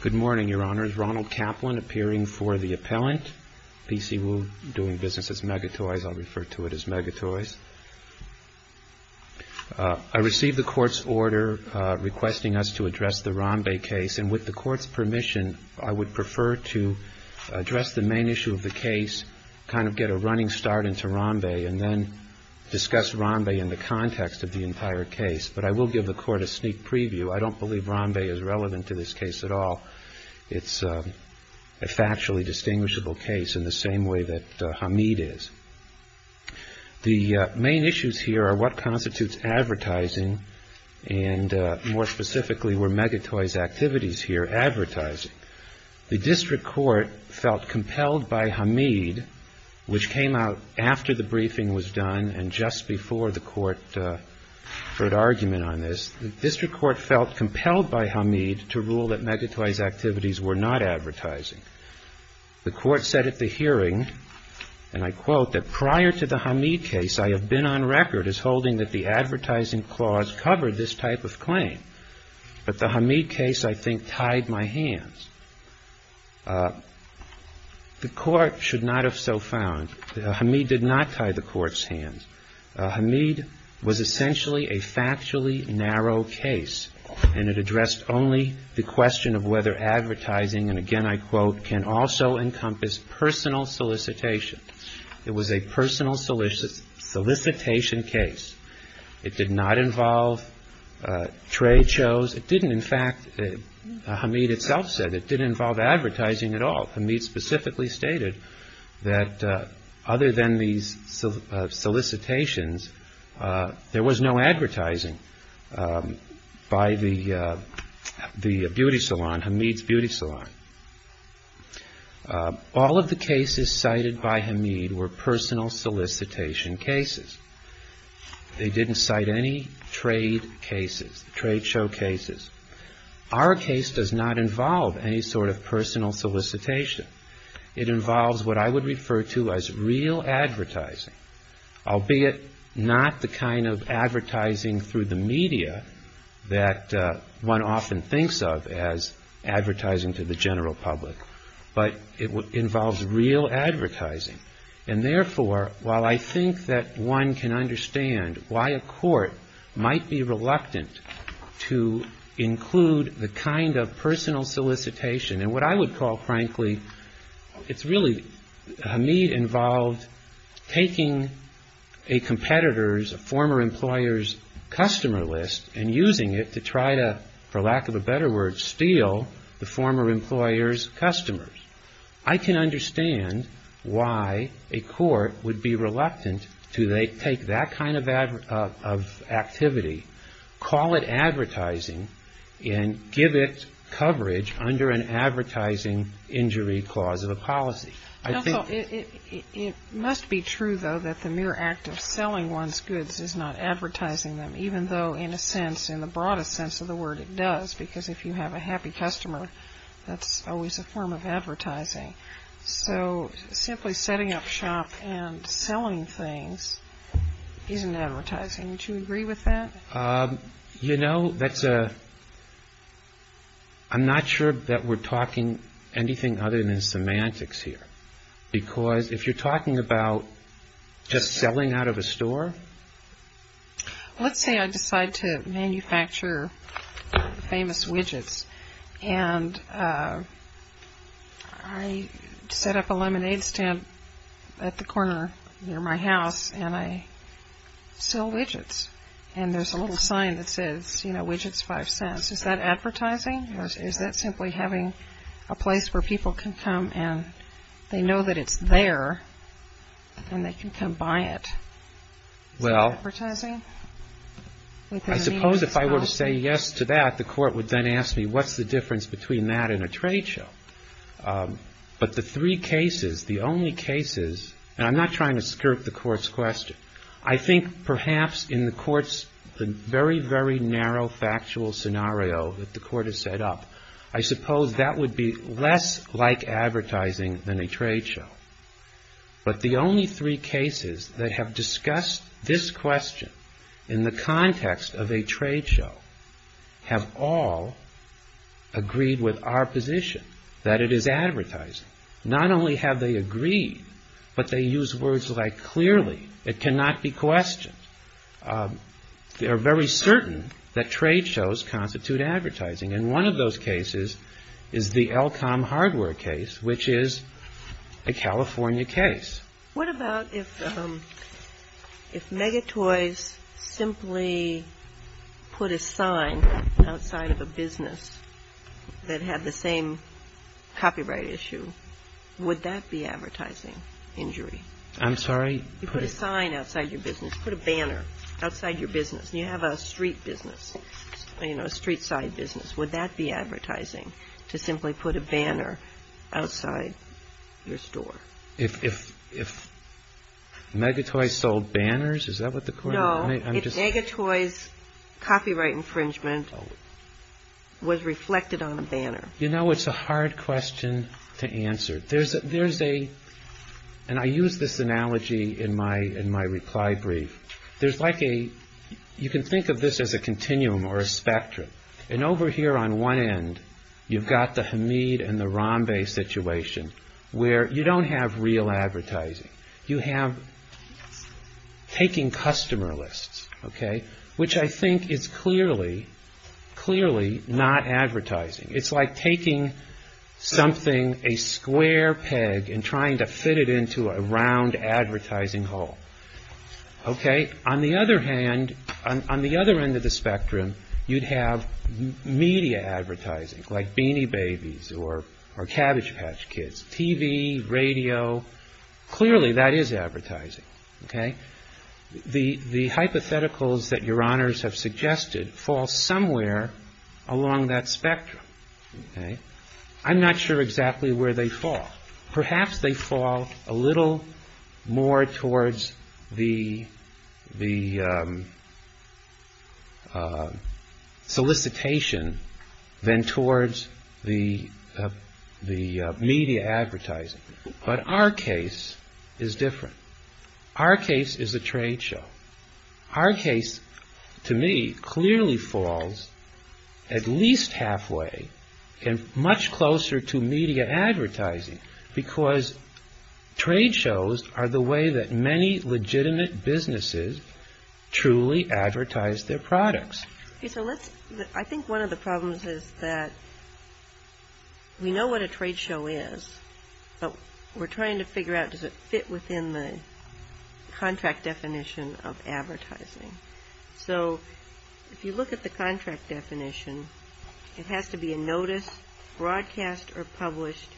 Good morning, Your Honors. Ronald Kaplan appearing for the appellant. P.C. Woo doing business as Megatoys. I'll refer to it as Megatoys. I received the Court's order requesting us to address the Rombey case, and with the Court's permission, I would prefer to address the main issue of the case, kind of get a running start into Rombey, and then discuss Rombey in the context of the entire case. But I will give the Court a sneak preview. I don't believe Rombey is relevant to this case at all. It's a factually distinguishable case in the same way that Hamid is. The main issues here are what constitutes advertising, and more specifically, were Megatoys' activities here advertising? The District Court felt compelled by Hamid, which came out after the briefing was done and just before the Court heard argument on this, the District Court felt compelled by Hamid to rule that Megatoys' activities were not advertising. The Court said at the hearing, and I quote, that prior to the Hamid case, I have been on record as holding that the advertising clause covered this type of claim. But the Hamid case, I think, tied my hands. The Court should not have so found. Hamid did not tie the Court's hands. Hamid was essentially a factually narrow case, and it addressed only the question of whether advertising, and again I quote, can also encompass personal solicitation. It was a personal solicitation case. It did not involve trade shows. It didn't, in fact, Hamid itself said it didn't involve advertising at all. Hamid specifically stated that other than these solicitations, there was no advertising by the beauty salon, Hamid's Beauty Salon. All of the cases cited by Hamid were personal solicitation cases. They didn't cite any trade cases, trade show cases. Our case does not involve any sort of personal solicitation. It involves what I would refer to as real advertising, albeit not the kind of advertising through the media that one often thinks of as advertising to the general public. But it involves real advertising. And therefore, while I think that one can understand why a court might be reluctant to include the kind of personal solicitation, and what I would call, frankly, it's really, Hamid involved taking a competitor's, a former employer's customer list and using it to try to, for lack of a better word, steal the former employer's customers. I can understand why a court would be reluctant to take that kind of activity, call it advertising, and give it coverage under an advertising injury clause of a policy. It must be true, though, that the mere act of selling one's goods is not advertising them, even though in a sense, in the broadest sense of the word, it does. Because if you have a happy customer, that's always a form of advertising. So simply setting up shop and selling things isn't advertising. Would you agree with that? You know, that's a, I'm not sure that we're talking anything other than semantics here. Because if you're talking about just selling out of a store. Let's say I decide to manufacture famous widgets. And I set up a lemonade stand at the corner near my house, and I sell widgets. And there's a little sign that says, you know, widgets, five cents. Is that advertising? Or is that simply having a place where people can come and they know that it's there, and they can come buy it? Is that advertising? I suppose if I were to say yes to that, the court would then ask me, what's the difference between that and a trade show? But the three cases, the only cases, and I'm not trying to skirt the court's question. I think perhaps in the court's very, very narrow factual scenario that the court has set up, I suppose that would be less like advertising than a trade show. But the only three cases that have discussed this question in the context of a trade show have all agreed with our position that it is advertising. Not only have they agreed, but they use words like clearly. It cannot be questioned. They are very certain that trade shows constitute advertising. And one of those cases is the Elcom hardware case, which is a California case. What about if Megatoys simply put a sign outside of a business that had the same copyright issue? Would that be advertising injury? I'm sorry? You put a sign outside your business, put a banner outside your business. You have a street business, you know, a street side business. Would that be advertising to simply put a banner outside your store? If Megatoys sold banners, is that what the court? No, if Megatoys' copyright infringement was reflected on a banner. You know, it's a hard question to answer. There's a, and I use this analogy in my reply brief. There's like a, you can think of this as a continuum or a spectrum. And over here on one end, you've got the Hamid and the Rambe situation where you don't have real advertising. You have taking customer lists, okay, which I think is clearly, clearly not advertising. It's like taking something, a square peg, and trying to fit it into a round advertising hole. Okay. On the other hand, on the other end of the spectrum, you'd have media advertising like Beanie Babies or Cabbage Patch Kids. TV, radio, clearly that is advertising. Okay. The hypotheticals that Your Honors have suggested fall somewhere along that spectrum. Okay. I'm not sure exactly where they fall. Perhaps they fall a little more towards the solicitation than towards the media advertising. But our case is different. Our case is a trade show. Our case to me clearly falls at least halfway and much closer to media advertising because trade shows are the way that many legitimate businesses truly advertise their products. Okay. So let's, I think one of the problems is that we know what a trade show is, but we're trying to figure out does it fit within the contract definition of advertising. So if you look at the contract definition, it has to be a notice broadcast or published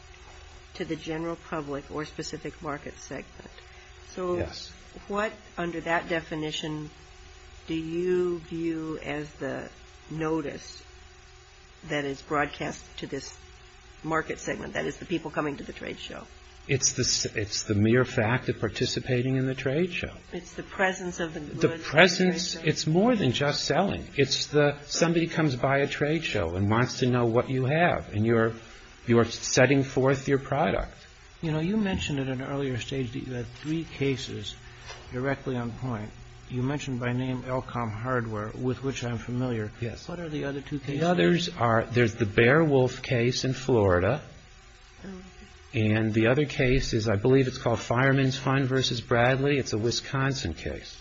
to the general public or specific market segment. So what under that definition do you view as the notice that is broadcast to this market segment, that is the people coming to the trade show? It's the mere fact of participating in the trade show. It's the presence of the goods. The presence, it's more than just selling. It's the, somebody comes by a trade show and wants to know what you have and you're setting forth your product. You know, you mentioned at an earlier stage that you had three cases directly on point. You mentioned by name Elcom Hardware, with which I'm familiar. Yes. What are the other two cases? Those others are, there's the Beowulf case in Florida, and the other case is, I believe it's called Fireman's Fund v. Bradley. It's a Wisconsin case.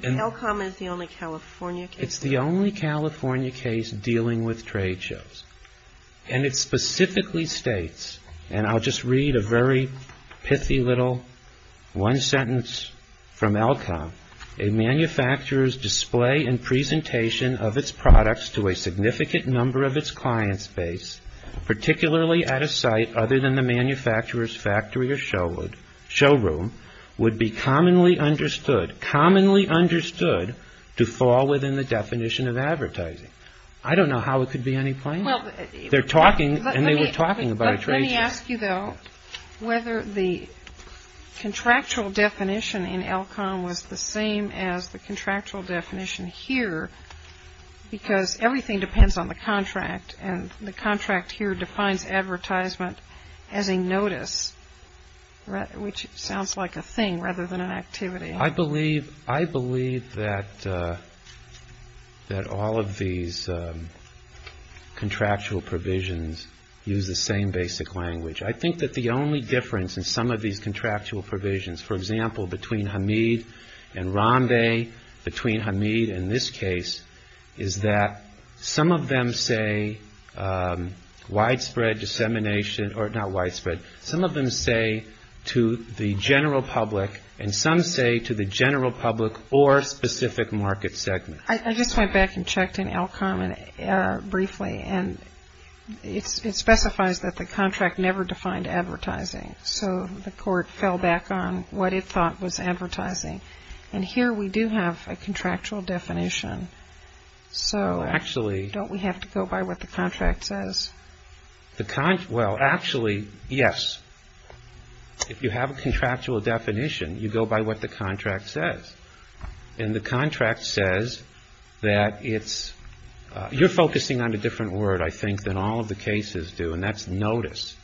Elcom is the only California case? It's the only California case dealing with trade shows. And it specifically states, and I'll just read a very pithy little one sentence from Elcom, a manufacturer's display and presentation of its products to a significant number of its clients' base, particularly at a site other than the manufacturer's factory or showroom, would be commonly understood, commonly understood to fall within the definition of advertising. I don't know how it could be any plainer. They're talking, and they were talking about a trade show. It's the same as the contractual definition here because everything depends on the contract, and the contract here defines advertisement as a notice, which sounds like a thing rather than an activity. I believe that all of these contractual provisions use the same basic language. I think that the only difference in some of these contractual provisions, for example, between Hamid and Rambeh, between Hamid and this case, is that some of them say widespread dissemination, or not widespread, some of them say to the general public, and some say to the general public or specific market segment. I just went back and checked in Elcom briefly, and it specifies that the contract never defined advertising. So the court fell back on what it thought was advertising. And here we do have a contractual definition. So don't we have to go by what the contract says? Well, actually, yes. If you have a contractual definition, you go by what the contract says. And the contract says that it's, you're focusing on a different word, I think, than all of the cases do, and that's notice.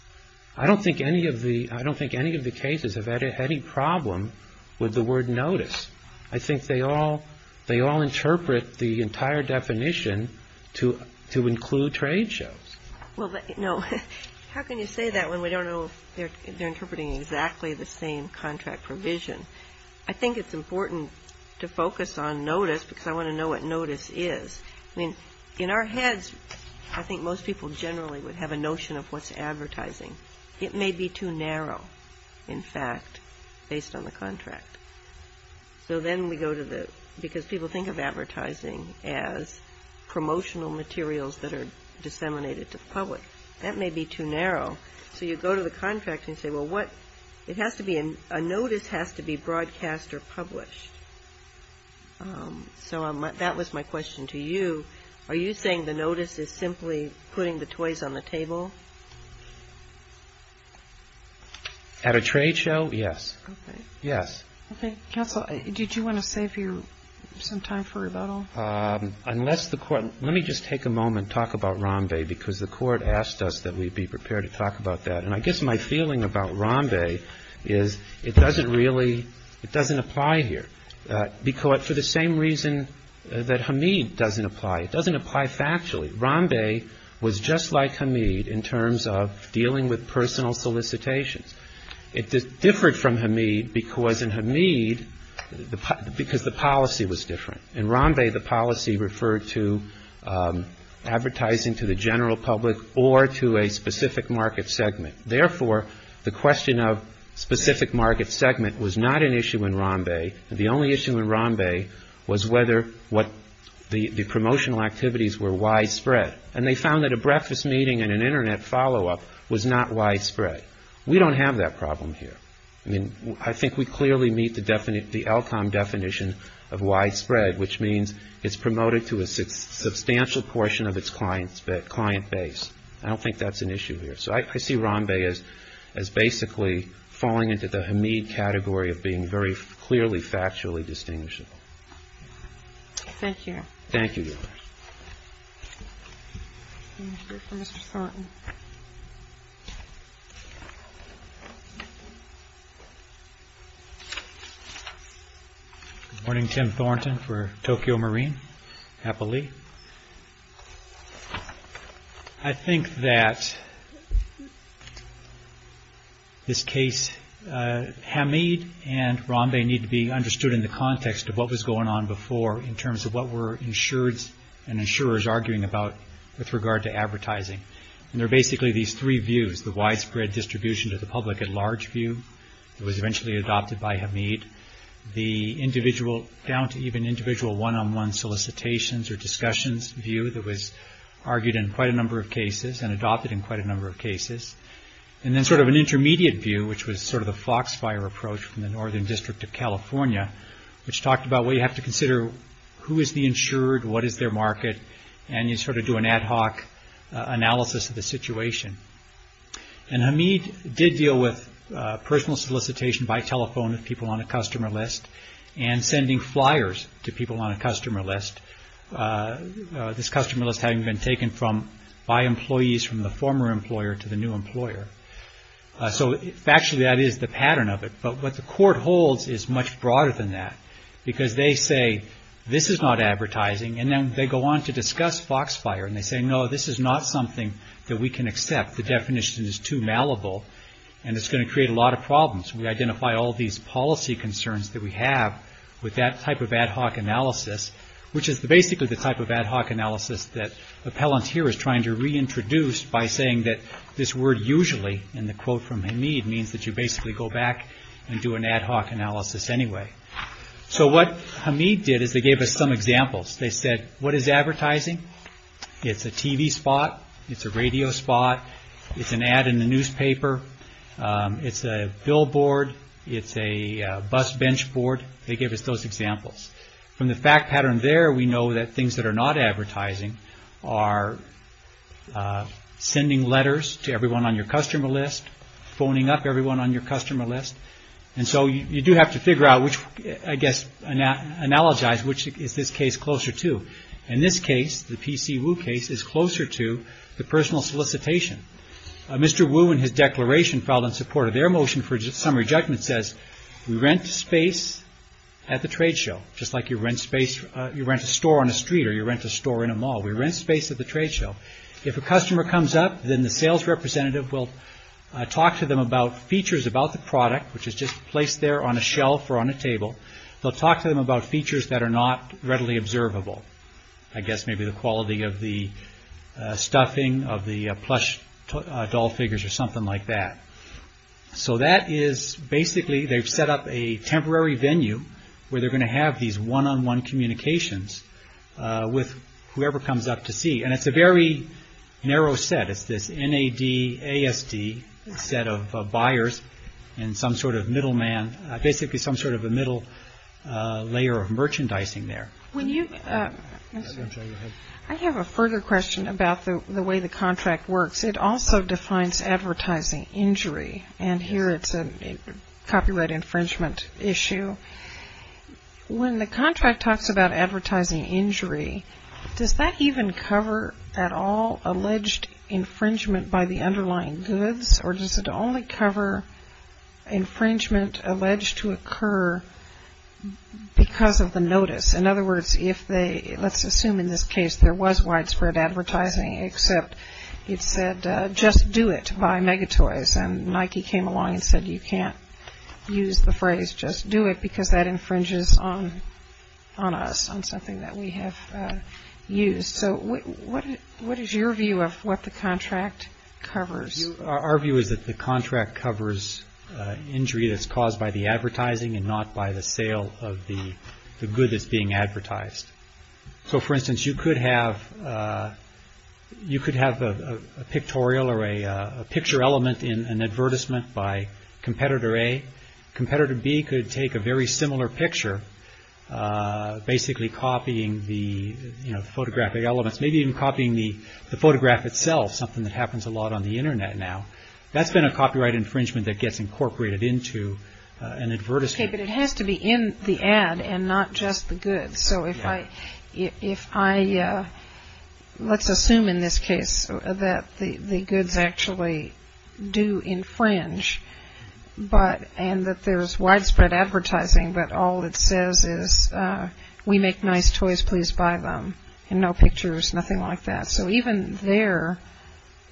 I don't think any of the cases have had any problem with the word notice. I think they all interpret the entire definition to include trade shows. Well, no. How can you say that when we don't know if they're interpreting exactly the same contract provision? I think it's important to focus on notice because I want to know what notice is. I mean, in our heads, I think most people generally would have a notion of what's advertising. It may be too narrow, in fact, based on the contract. So then we go to the, because people think of advertising as promotional materials that are disseminated to the public. That may be too narrow. So you go to the contract and say, well, what, it has to be, a notice has to be broadcast or published. So that was my question to you. Are you saying the notice is simply putting the toys on the table? At a trade show, yes. Okay. Yes. Okay. Counsel, did you want to save you some time for rebuttal? Unless the Court, let me just take a moment, talk about Rambe, because the Court asked us that we be prepared to talk about that. And I guess my feeling about Rambe is it doesn't really, it doesn't apply here. For the same reason that Hamid doesn't apply. It doesn't apply factually. Rambe was just like Hamid in terms of dealing with personal solicitations. It differed from Hamid because in Hamid, because the policy was different. In Rambe, the policy referred to advertising to the general public or to a specific market segment. Therefore, the question of specific market segment was not an issue in Rambe. The only issue in Rambe was whether what the promotional activities were widespread. And they found that a breakfast meeting and an Internet follow-up was not widespread. We don't have that problem here. I mean, I think we clearly meet the outcome definition of widespread, which means it's promoted to a substantial portion of its client base. I don't think that's an issue here. So I see Rambe as basically falling into the Hamid category of being very clearly factually distinguishable. Thank you. Thank you. Mr. Thornton. Good morning, Tim Thornton for Tokyo Marine. Happily. I think that this case, Hamid and Rambe need to be understood in the context of what was going on before in terms of what were insured and insurers arguing about with regard to advertising. And they're basically these three views, the widespread distribution to the public at large view, that was eventually adopted by Hamid. The individual, down to even individual one-on-one solicitations or discussions view that was argued in quite a number of cases and adopted in quite a number of cases. And then sort of an intermediate view, which was sort of the Foxfire approach from the Northern District of California, which talked about what you have to consider, who is the insured, what is their market, and you sort of do an ad hoc analysis of the situation. And Hamid did deal with personal solicitation by telephone with people on a customer list and sending flyers to people on a customer list. This customer list having been taken from by employees from the former employer to the new employer. So actually that is the pattern of it. But what the court holds is much broader than that because they say this is not advertising and then they go on to discuss Foxfire and they say no, this is not something that we can accept. The definition is too malleable and it's going to create a lot of problems. We identify all these policy concerns that we have with that type of ad hoc analysis, which is basically the type of ad hoc analysis that appellant here is trying to reintroduce by saying that this word usually in the quote from Hamid means that you basically go back and do an ad hoc analysis anyway. So what Hamid did is they gave us some examples. They said, what is advertising? It's a TV spot. It's a radio spot. It's an ad in the newspaper. It's a billboard. It's a bus bench board. They gave us those examples. From the fact pattern there, we know that things that are not advertising are sending letters to everyone on your customer list, phoning up everyone on your customer list. And so you do have to figure out which, I guess, analogize which is this case closer to. In this case, the P.C. Wu case is closer to the personal solicitation. Mr. Wu in his declaration filed in support of their motion for summary judgment says we rent space at the trade show, just like you rent space, you rent a store on a street or you rent a store in a mall. We rent space at the trade show. If a customer comes up, then the sales representative will talk to them about features about the product, which is just placed there on a shelf or on a table. They'll talk to them about features that are not readily observable. I guess maybe the quality of the stuffing of the plush doll figures or something like that. So that is basically they've set up a temporary venue where they're going to have these one on one communications with whoever comes up to see. And it's a very narrow set. It's this N.A.D. A.S.D. set of buyers and some sort of middleman, basically some sort of a middle layer of merchandising there. I have a further question about the way the contract works. It also defines advertising injury. And here it's a copyright infringement issue. When the contract talks about advertising injury, does that even cover at all alleged infringement by the underlying goods? Or does it only cover infringement alleged to occur because of the notice? In other words, let's assume in this case there was widespread advertising, except it said, just do it, buy Megatoys. And Nike came along and said, you can't use the phrase, just do it, because that infringes on us, on something that we have used. So what is your view of what the contract covers? Our view is that the contract covers injury that's caused by the advertising and not by the sale of the good that's being advertised. So for instance, you could have a pictorial or a picture element in an advertisement by competitor A. Competitor B could take a very similar picture, basically copying the photographic elements, maybe even copying the photograph itself, something that happens a lot on the Internet now. That's been a copyright infringement that gets incorporated into an advertisement. Okay, but it has to be in the ad and not just the goods. So if I, let's assume in this case that the goods actually do infringe, and that there's widespread advertising, but all it says is, we make nice toys, please buy them. And no pictures, nothing like that. So even there,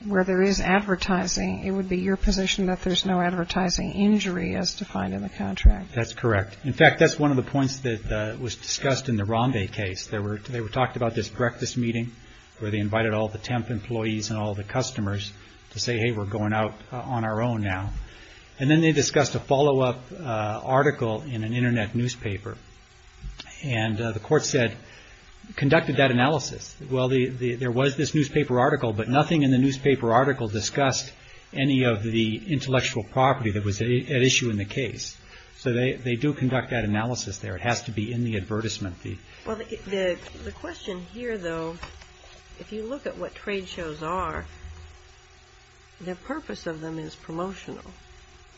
where there is advertising, it would be your position that there's no advertising injury as defined in the contract. That's correct. In fact, that's one of the points that was discussed in the Rambe case. They were talking about this breakfast meeting where they invited all the temp employees and all the customers to say, hey, we're going out on our own now. And then they discussed a follow-up article in an Internet newspaper. And the court said, conducted that analysis. Well, there was this newspaper article, but nothing in the newspaper article discussed any of the intellectual property that was at issue in the case. So they do conduct that analysis there. It has to be in the advertisement. Well, the question here, though, if you look at what trade shows are, the purpose of them is promotional.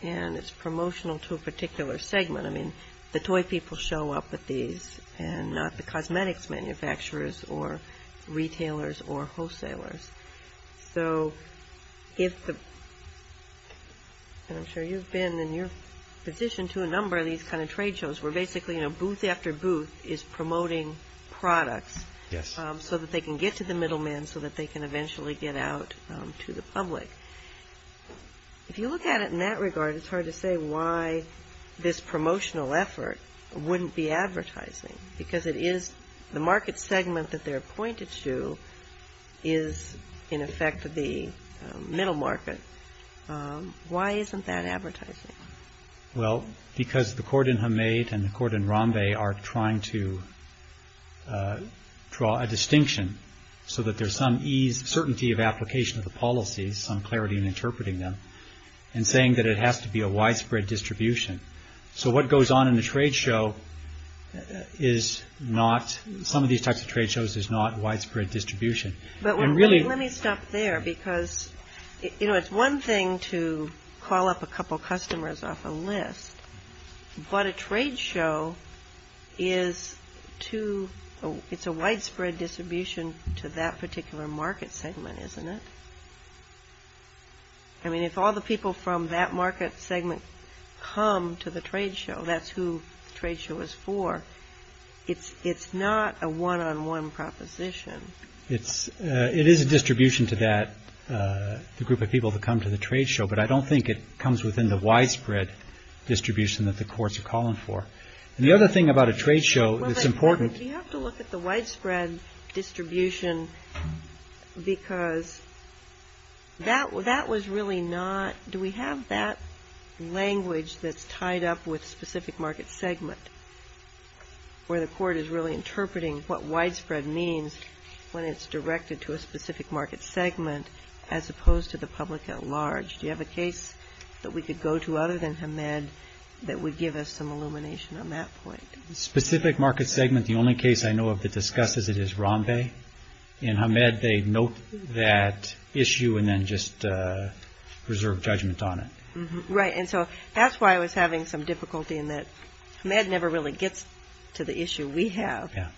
And it's promotional to a particular segment. I mean, the toy people show up at these and not the cosmetics manufacturers or retailers or wholesalers. So if the – and I'm sure you've been in your position to a number of these kind of trade shows where basically, you know, booth after booth is promoting products so that they can get to the middlemen so that they can eventually get out to the public. If you look at it in that regard, it's hard to say why this promotional effort wouldn't be advertising. Because it is – the market segment that they're pointed to is, in effect, the middle market. Why isn't that advertising? Well, because the court in Hamed and the court in Rambe are trying to draw a distinction so that there's some ease, certainty of application of the policies, some clarity in interpreting them, and saying that it has to be a widespread distribution. So what goes on in the trade show is not – some of these types of trade shows is not widespread distribution. And really – But let me stop there because, you know, it's one thing to call up a couple customers off a list. But a trade show is to – it's a widespread distribution to that particular market segment, isn't it? I mean, if all the people from that market segment come to the trade show, that's who the trade show is for. It's not a one-on-one proposition. It is a distribution to that – the group of people that come to the trade show. But I don't think it comes within the widespread distribution that the courts are calling for. And the other thing about a trade show that's important – Well, but you have to look at the widespread distribution because that was really not – do we have that language that's tied up with specific market segment, where the court is really interpreting what widespread means when it's directed to a specific market segment as opposed to the public at large? Do you have a case that we could go to other than Hamed that would give us some illumination on that point? Specific market segment – the only case I know of that discusses it is Rambeh. In Hamed, they note that issue and then just reserve judgment on it. Right, and so that's why I was having some difficulty in that Hamed never really gets to the issue we have. Yeah.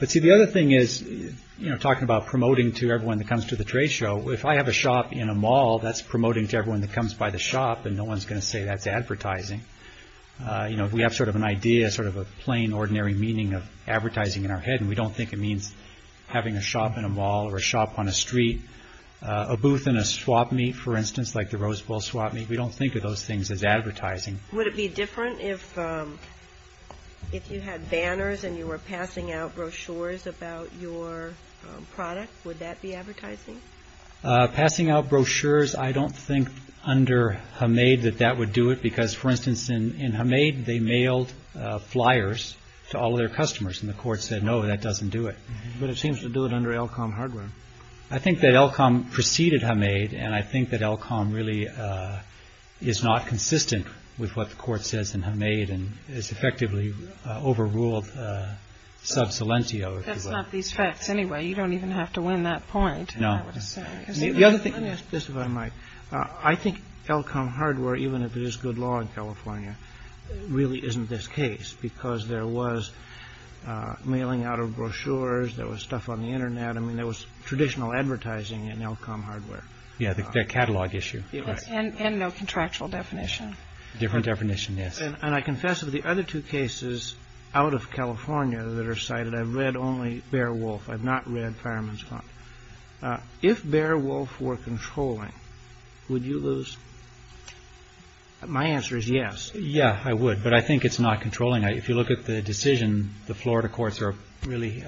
But see, the other thing is, you know, talking about promoting to everyone that comes to the trade show, if I have a shop in a mall, that's promoting to everyone that comes by the shop, and no one's going to say that's advertising. You know, we have sort of an idea, sort of a plain, ordinary meaning of advertising in our head, and we don't think it means having a shop in a mall or a shop on a street. A booth in a swap meet, for instance, like the Rose Bowl swap meet, we don't think of those things as advertising. Would it be different if you had banners and you were passing out brochures about your product? Would that be advertising? Passing out brochures, I don't think under Hamed that that would do it, because, for instance, in Hamed, they mailed flyers to all of their customers, and the court said, no, that doesn't do it. But it seems to do it under Elcom hardware. I think that Elcom preceded Hamed, and I think that Elcom really is not consistent with what the court says in Hamed and has effectively overruled Subsilentio. That's not these facts anyway. You don't even have to win that point, I would say. Let me ask this, if I might. I think Elcom hardware, even if it is good law in California, really isn't this case, because there was mailing out of brochures, there was stuff on the Internet. I mean, there was traditional advertising in Elcom hardware. Yeah, the catalog issue. And no contractual definition. Different definition, yes. And I confess of the other two cases out of California that are cited, I've read only Beowulf. I've not read Fireman's Claim. If Beowulf were controlling, would you lose? My answer is yes. Yeah, I would, but I think it's not controlling. If you look at the decision, the Florida courts are really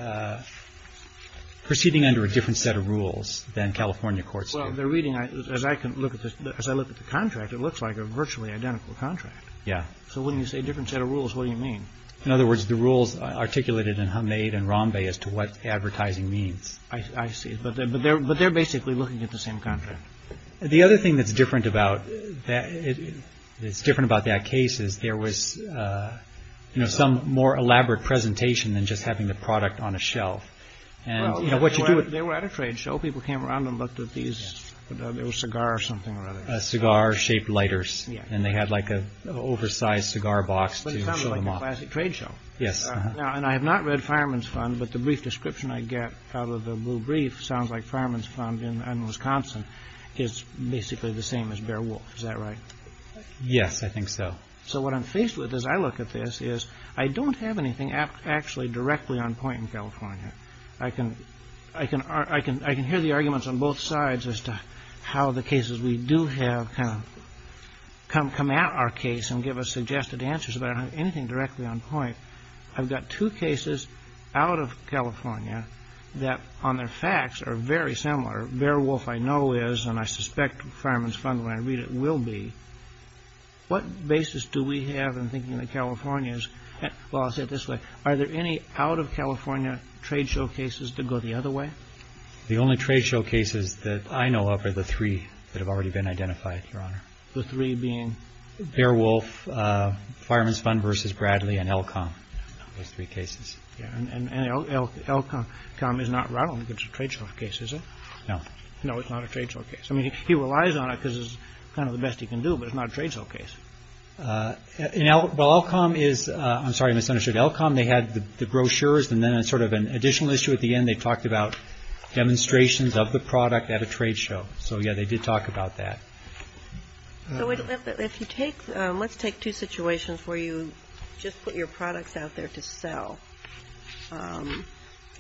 proceeding under a different set of rules than California courts do. Well, the reading, as I can look at this, as I look at the contract, it looks like a virtually identical contract. Yeah. So when you say different set of rules, what do you mean? In other words, the rules articulated in Hamed and Rambe as to what advertising means. I see. But they're basically looking at the same contract. The other thing that's different about that, it's different about that case is there was, you know, some more elaborate presentation than just having the product on a shelf. And, you know, what you do. They were at a trade show. People came around and looked at these. There was a cigar or something. A cigar shaped lighters. And they had like a oversized cigar box to show them off. But it sounded like a classic trade show. Yes. And I have not read Fireman's Fund, but the brief description I get out of the brief sounds like Fireman's Fund in Wisconsin. It's basically the same as Bear Wolf. Is that right? Yes, I think so. So what I'm faced with as I look at this is I don't have anything actually directly on point in California. I can I can I can I can hear the arguments on both sides as to how the cases we do have come come at our case and give us suggested answers about anything directly on point. I've got two cases out of California that on their facts are very similar. Bear Wolf, I know, is and I suspect Fireman's Fund when I read it will be. What basis do we have in thinking that California is. Well, I'll say it this way. Are there any out of California trade showcases to go the other way? The only trade showcases that I know of are the three that have already been identified. Your Honor, the three being Bear Wolf, Fireman's Fund versus Bradley and Elkham. Those three cases and Elkham is not relevant to trade showcases. No, no, it's not a trade showcase. I mean, he relies on it because it's kind of the best he can do, but it's not a trade showcase. Now, Elkham is I'm sorry, misunderstood Elkham. They had the brochures and then sort of an additional issue at the end. They talked about demonstrations of the product at a trade show. So, yeah, they did talk about that. Let's take two situations where you just put your products out there to sell.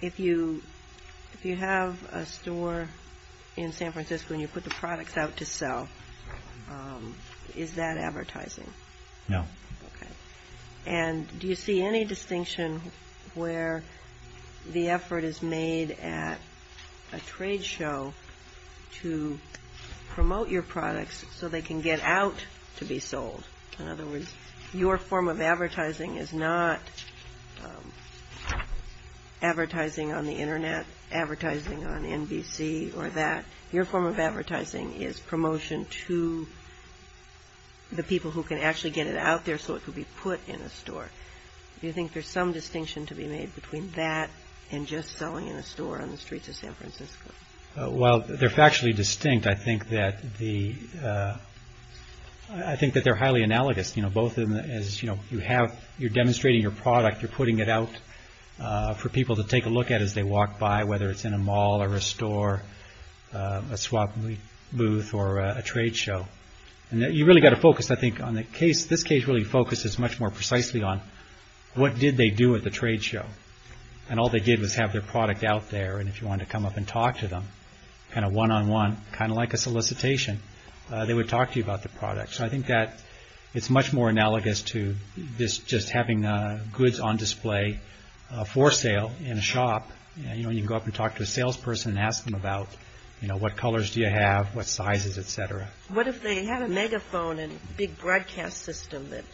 If you have a store in San Francisco and you put the products out to sell, is that advertising? No. And do you see any distinction where the effort is made at a trade show to promote your products so they can get out to be sold? In other words, your form of advertising is not advertising on the Internet, advertising on NBC or that. Your form of advertising is promotion to the people who can actually get it out there so it can be put in a store. Do you think there's some distinction to be made between that and just selling in a store on the streets of San Francisco? Well, they're factually distinct. I think that the I think that they're highly analogous. You know, both as you know, you have you're demonstrating your product, you're putting it out for people to take a look at as they walk by, whether it's in a mall or a store, a swap booth or a trade show. And you really got to focus, I think, on the case. This case really focuses much more precisely on what did they do at the trade show? And all they did was have their product out there. And if you want to come up and talk to them kind of one on one, kind of like a solicitation, they would talk to you about the product. So I think that it's much more analogous to this, just having goods on display for sale in a shop. You know, you can go up and talk to a salesperson and ask them about, you know, what colors do you have, what sizes, etc. What if they had a megaphone and big broadcast system that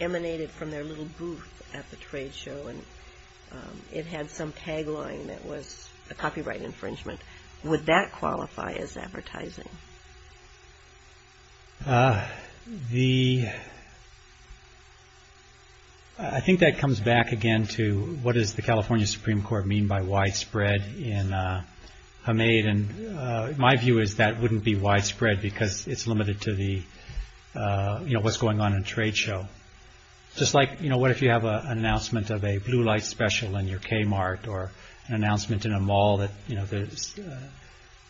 emanated from their little booth at the trade show? And it had some tagline that was a copyright infringement. Would that qualify as advertising? The. I think that comes back again to what is the California Supreme Court mean by widespread in a maid? And my view is that wouldn't be widespread because it's limited to the what's going on in a trade show. Just like, you know, what if you have an announcement of a blue light special in your Kmart or an announcement in a mall that, you know, there's,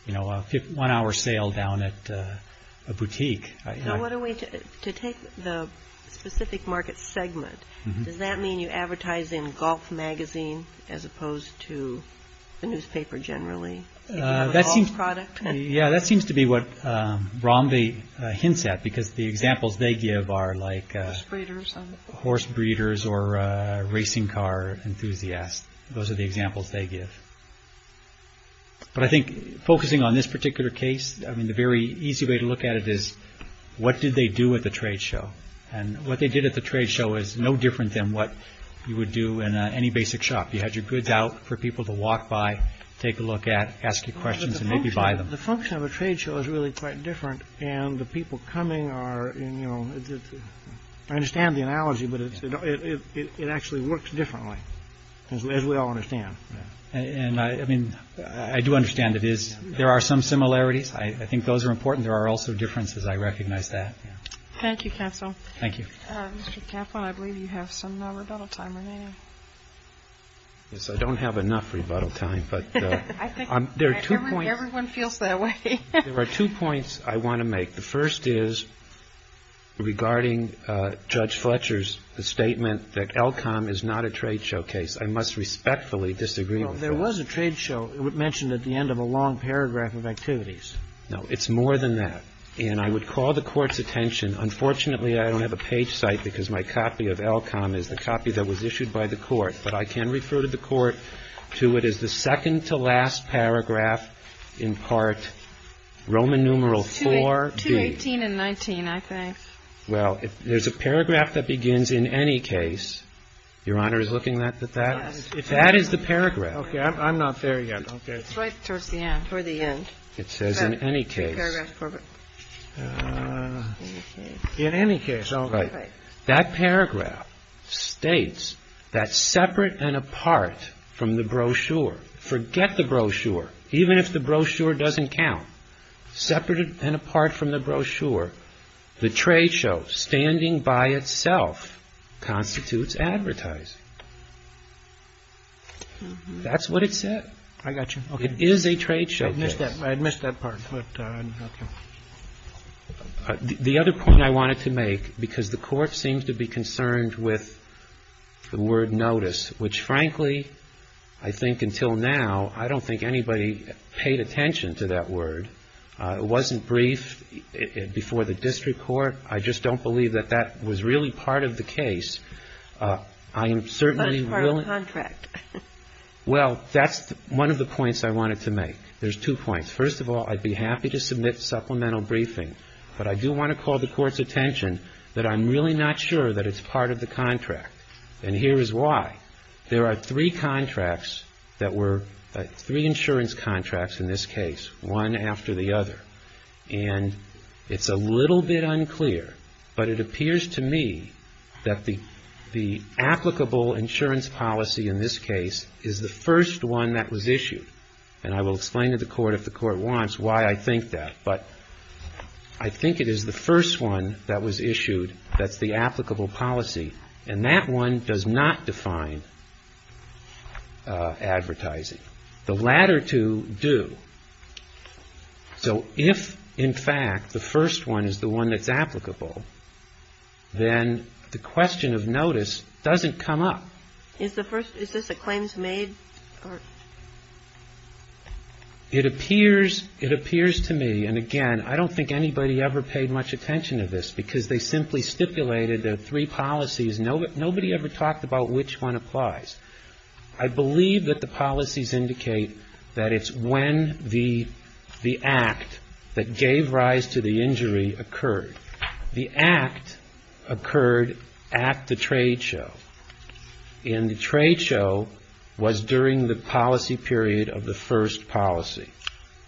you know, a one hour sale down at a boutique. I know what a way to take the specific market segment. Does that mean you advertise in golf magazine as opposed to the newspaper? Generally, that seems product. Yeah, that seems to be what Romney hints at, because the examples they give are like breeders, horse breeders or racing car enthusiasts. Those are the examples they give. But I think focusing on this particular case, I mean, the very easy way to look at it is what did they do with the trade show? And what they did at the trade show is no different than what you would do in any basic shop. You had your goods out for people to walk by, take a look at, ask you questions and maybe buy them. The function of a trade show is really quite different. And the people coming are, you know, I understand the analogy, but it actually works differently as we all understand. And I mean, I do understand that is there are some similarities. I think those are important. There are also differences. I recognize that. Thank you, counsel. Thank you. Mr. Kaplan, I believe you have some rebuttal time remaining. Yes, I don't have enough rebuttal time, but there are two points. Everyone feels that way. There are two points I want to make. The first is regarding Judge Fletcher's statement that Elcom is not a trade show case. I must respectfully disagree. There was a trade show mentioned at the end of a long paragraph of activities. No, it's more than that. And I would call the Court's attention. Unfortunately, I don't have a page cite because my copy of Elcom is the copy that was issued by the Court. But I can refer to the Court to it as the second to last paragraph in Part Roman numeral 4B. It's 218 and 19, I think. Well, if there's a paragraph that begins, in any case, Your Honor is looking at that? Yes. If that is the paragraph. Okay. I'm not there yet. Okay. It's right towards the end. It says in any case. Paragraph 4B. In any case. In any case. All right. That paragraph states that separate and apart from the brochure, forget the brochure, even if the brochure doesn't count, separate and apart from the brochure, the trade show standing by itself constitutes advertising. That's what it said. I got you. It is a trade show case. I missed that part, but okay. The other point I wanted to make, because the Court seems to be concerned with the word notice, which, frankly, I think until now, I don't think anybody paid attention to that word. It wasn't briefed before the district court. I just don't believe that that was really part of the case. I'm certainly willing. But it's part of the contract. Well, that's one of the points I wanted to make. There's two points. First of all, I'd be happy to submit supplemental briefing, but I do want to call the Court's attention that I'm really not sure that it's part of the contract. And here is why. There are three contracts that were, three insurance contracts in this case, one after the other. And it's a little bit unclear, but it appears to me that the applicable insurance policy in this case is the first one that was issued. And I will explain to the Court, if the Court wants, why I think that. But I think it is the first one that was issued that's the applicable policy. And that one does not define advertising. The latter two do. So if, in fact, the first one is the one that's applicable, then the question of notice doesn't come up. Is the first, is this a claims made? It appears, it appears to me, and again, I don't think anybody ever paid much attention to this, because they simply stipulated the three policies. Nobody ever talked about which one applies. I believe that the policies indicate that it's when the act that gave rise to the injury occurred. The act occurred at the trade show. And the trade show was during the policy period of the first policy.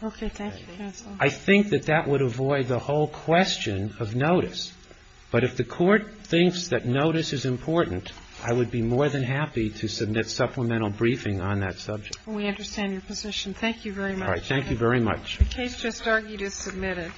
Okay. Thank you, counsel. I think that that would avoid the whole question of notice. But if the Court thinks that notice is important, I would be more than happy to submit supplemental briefing on that subject. We understand your position. Thank you very much. Thank you very much. The case just argued is submitted.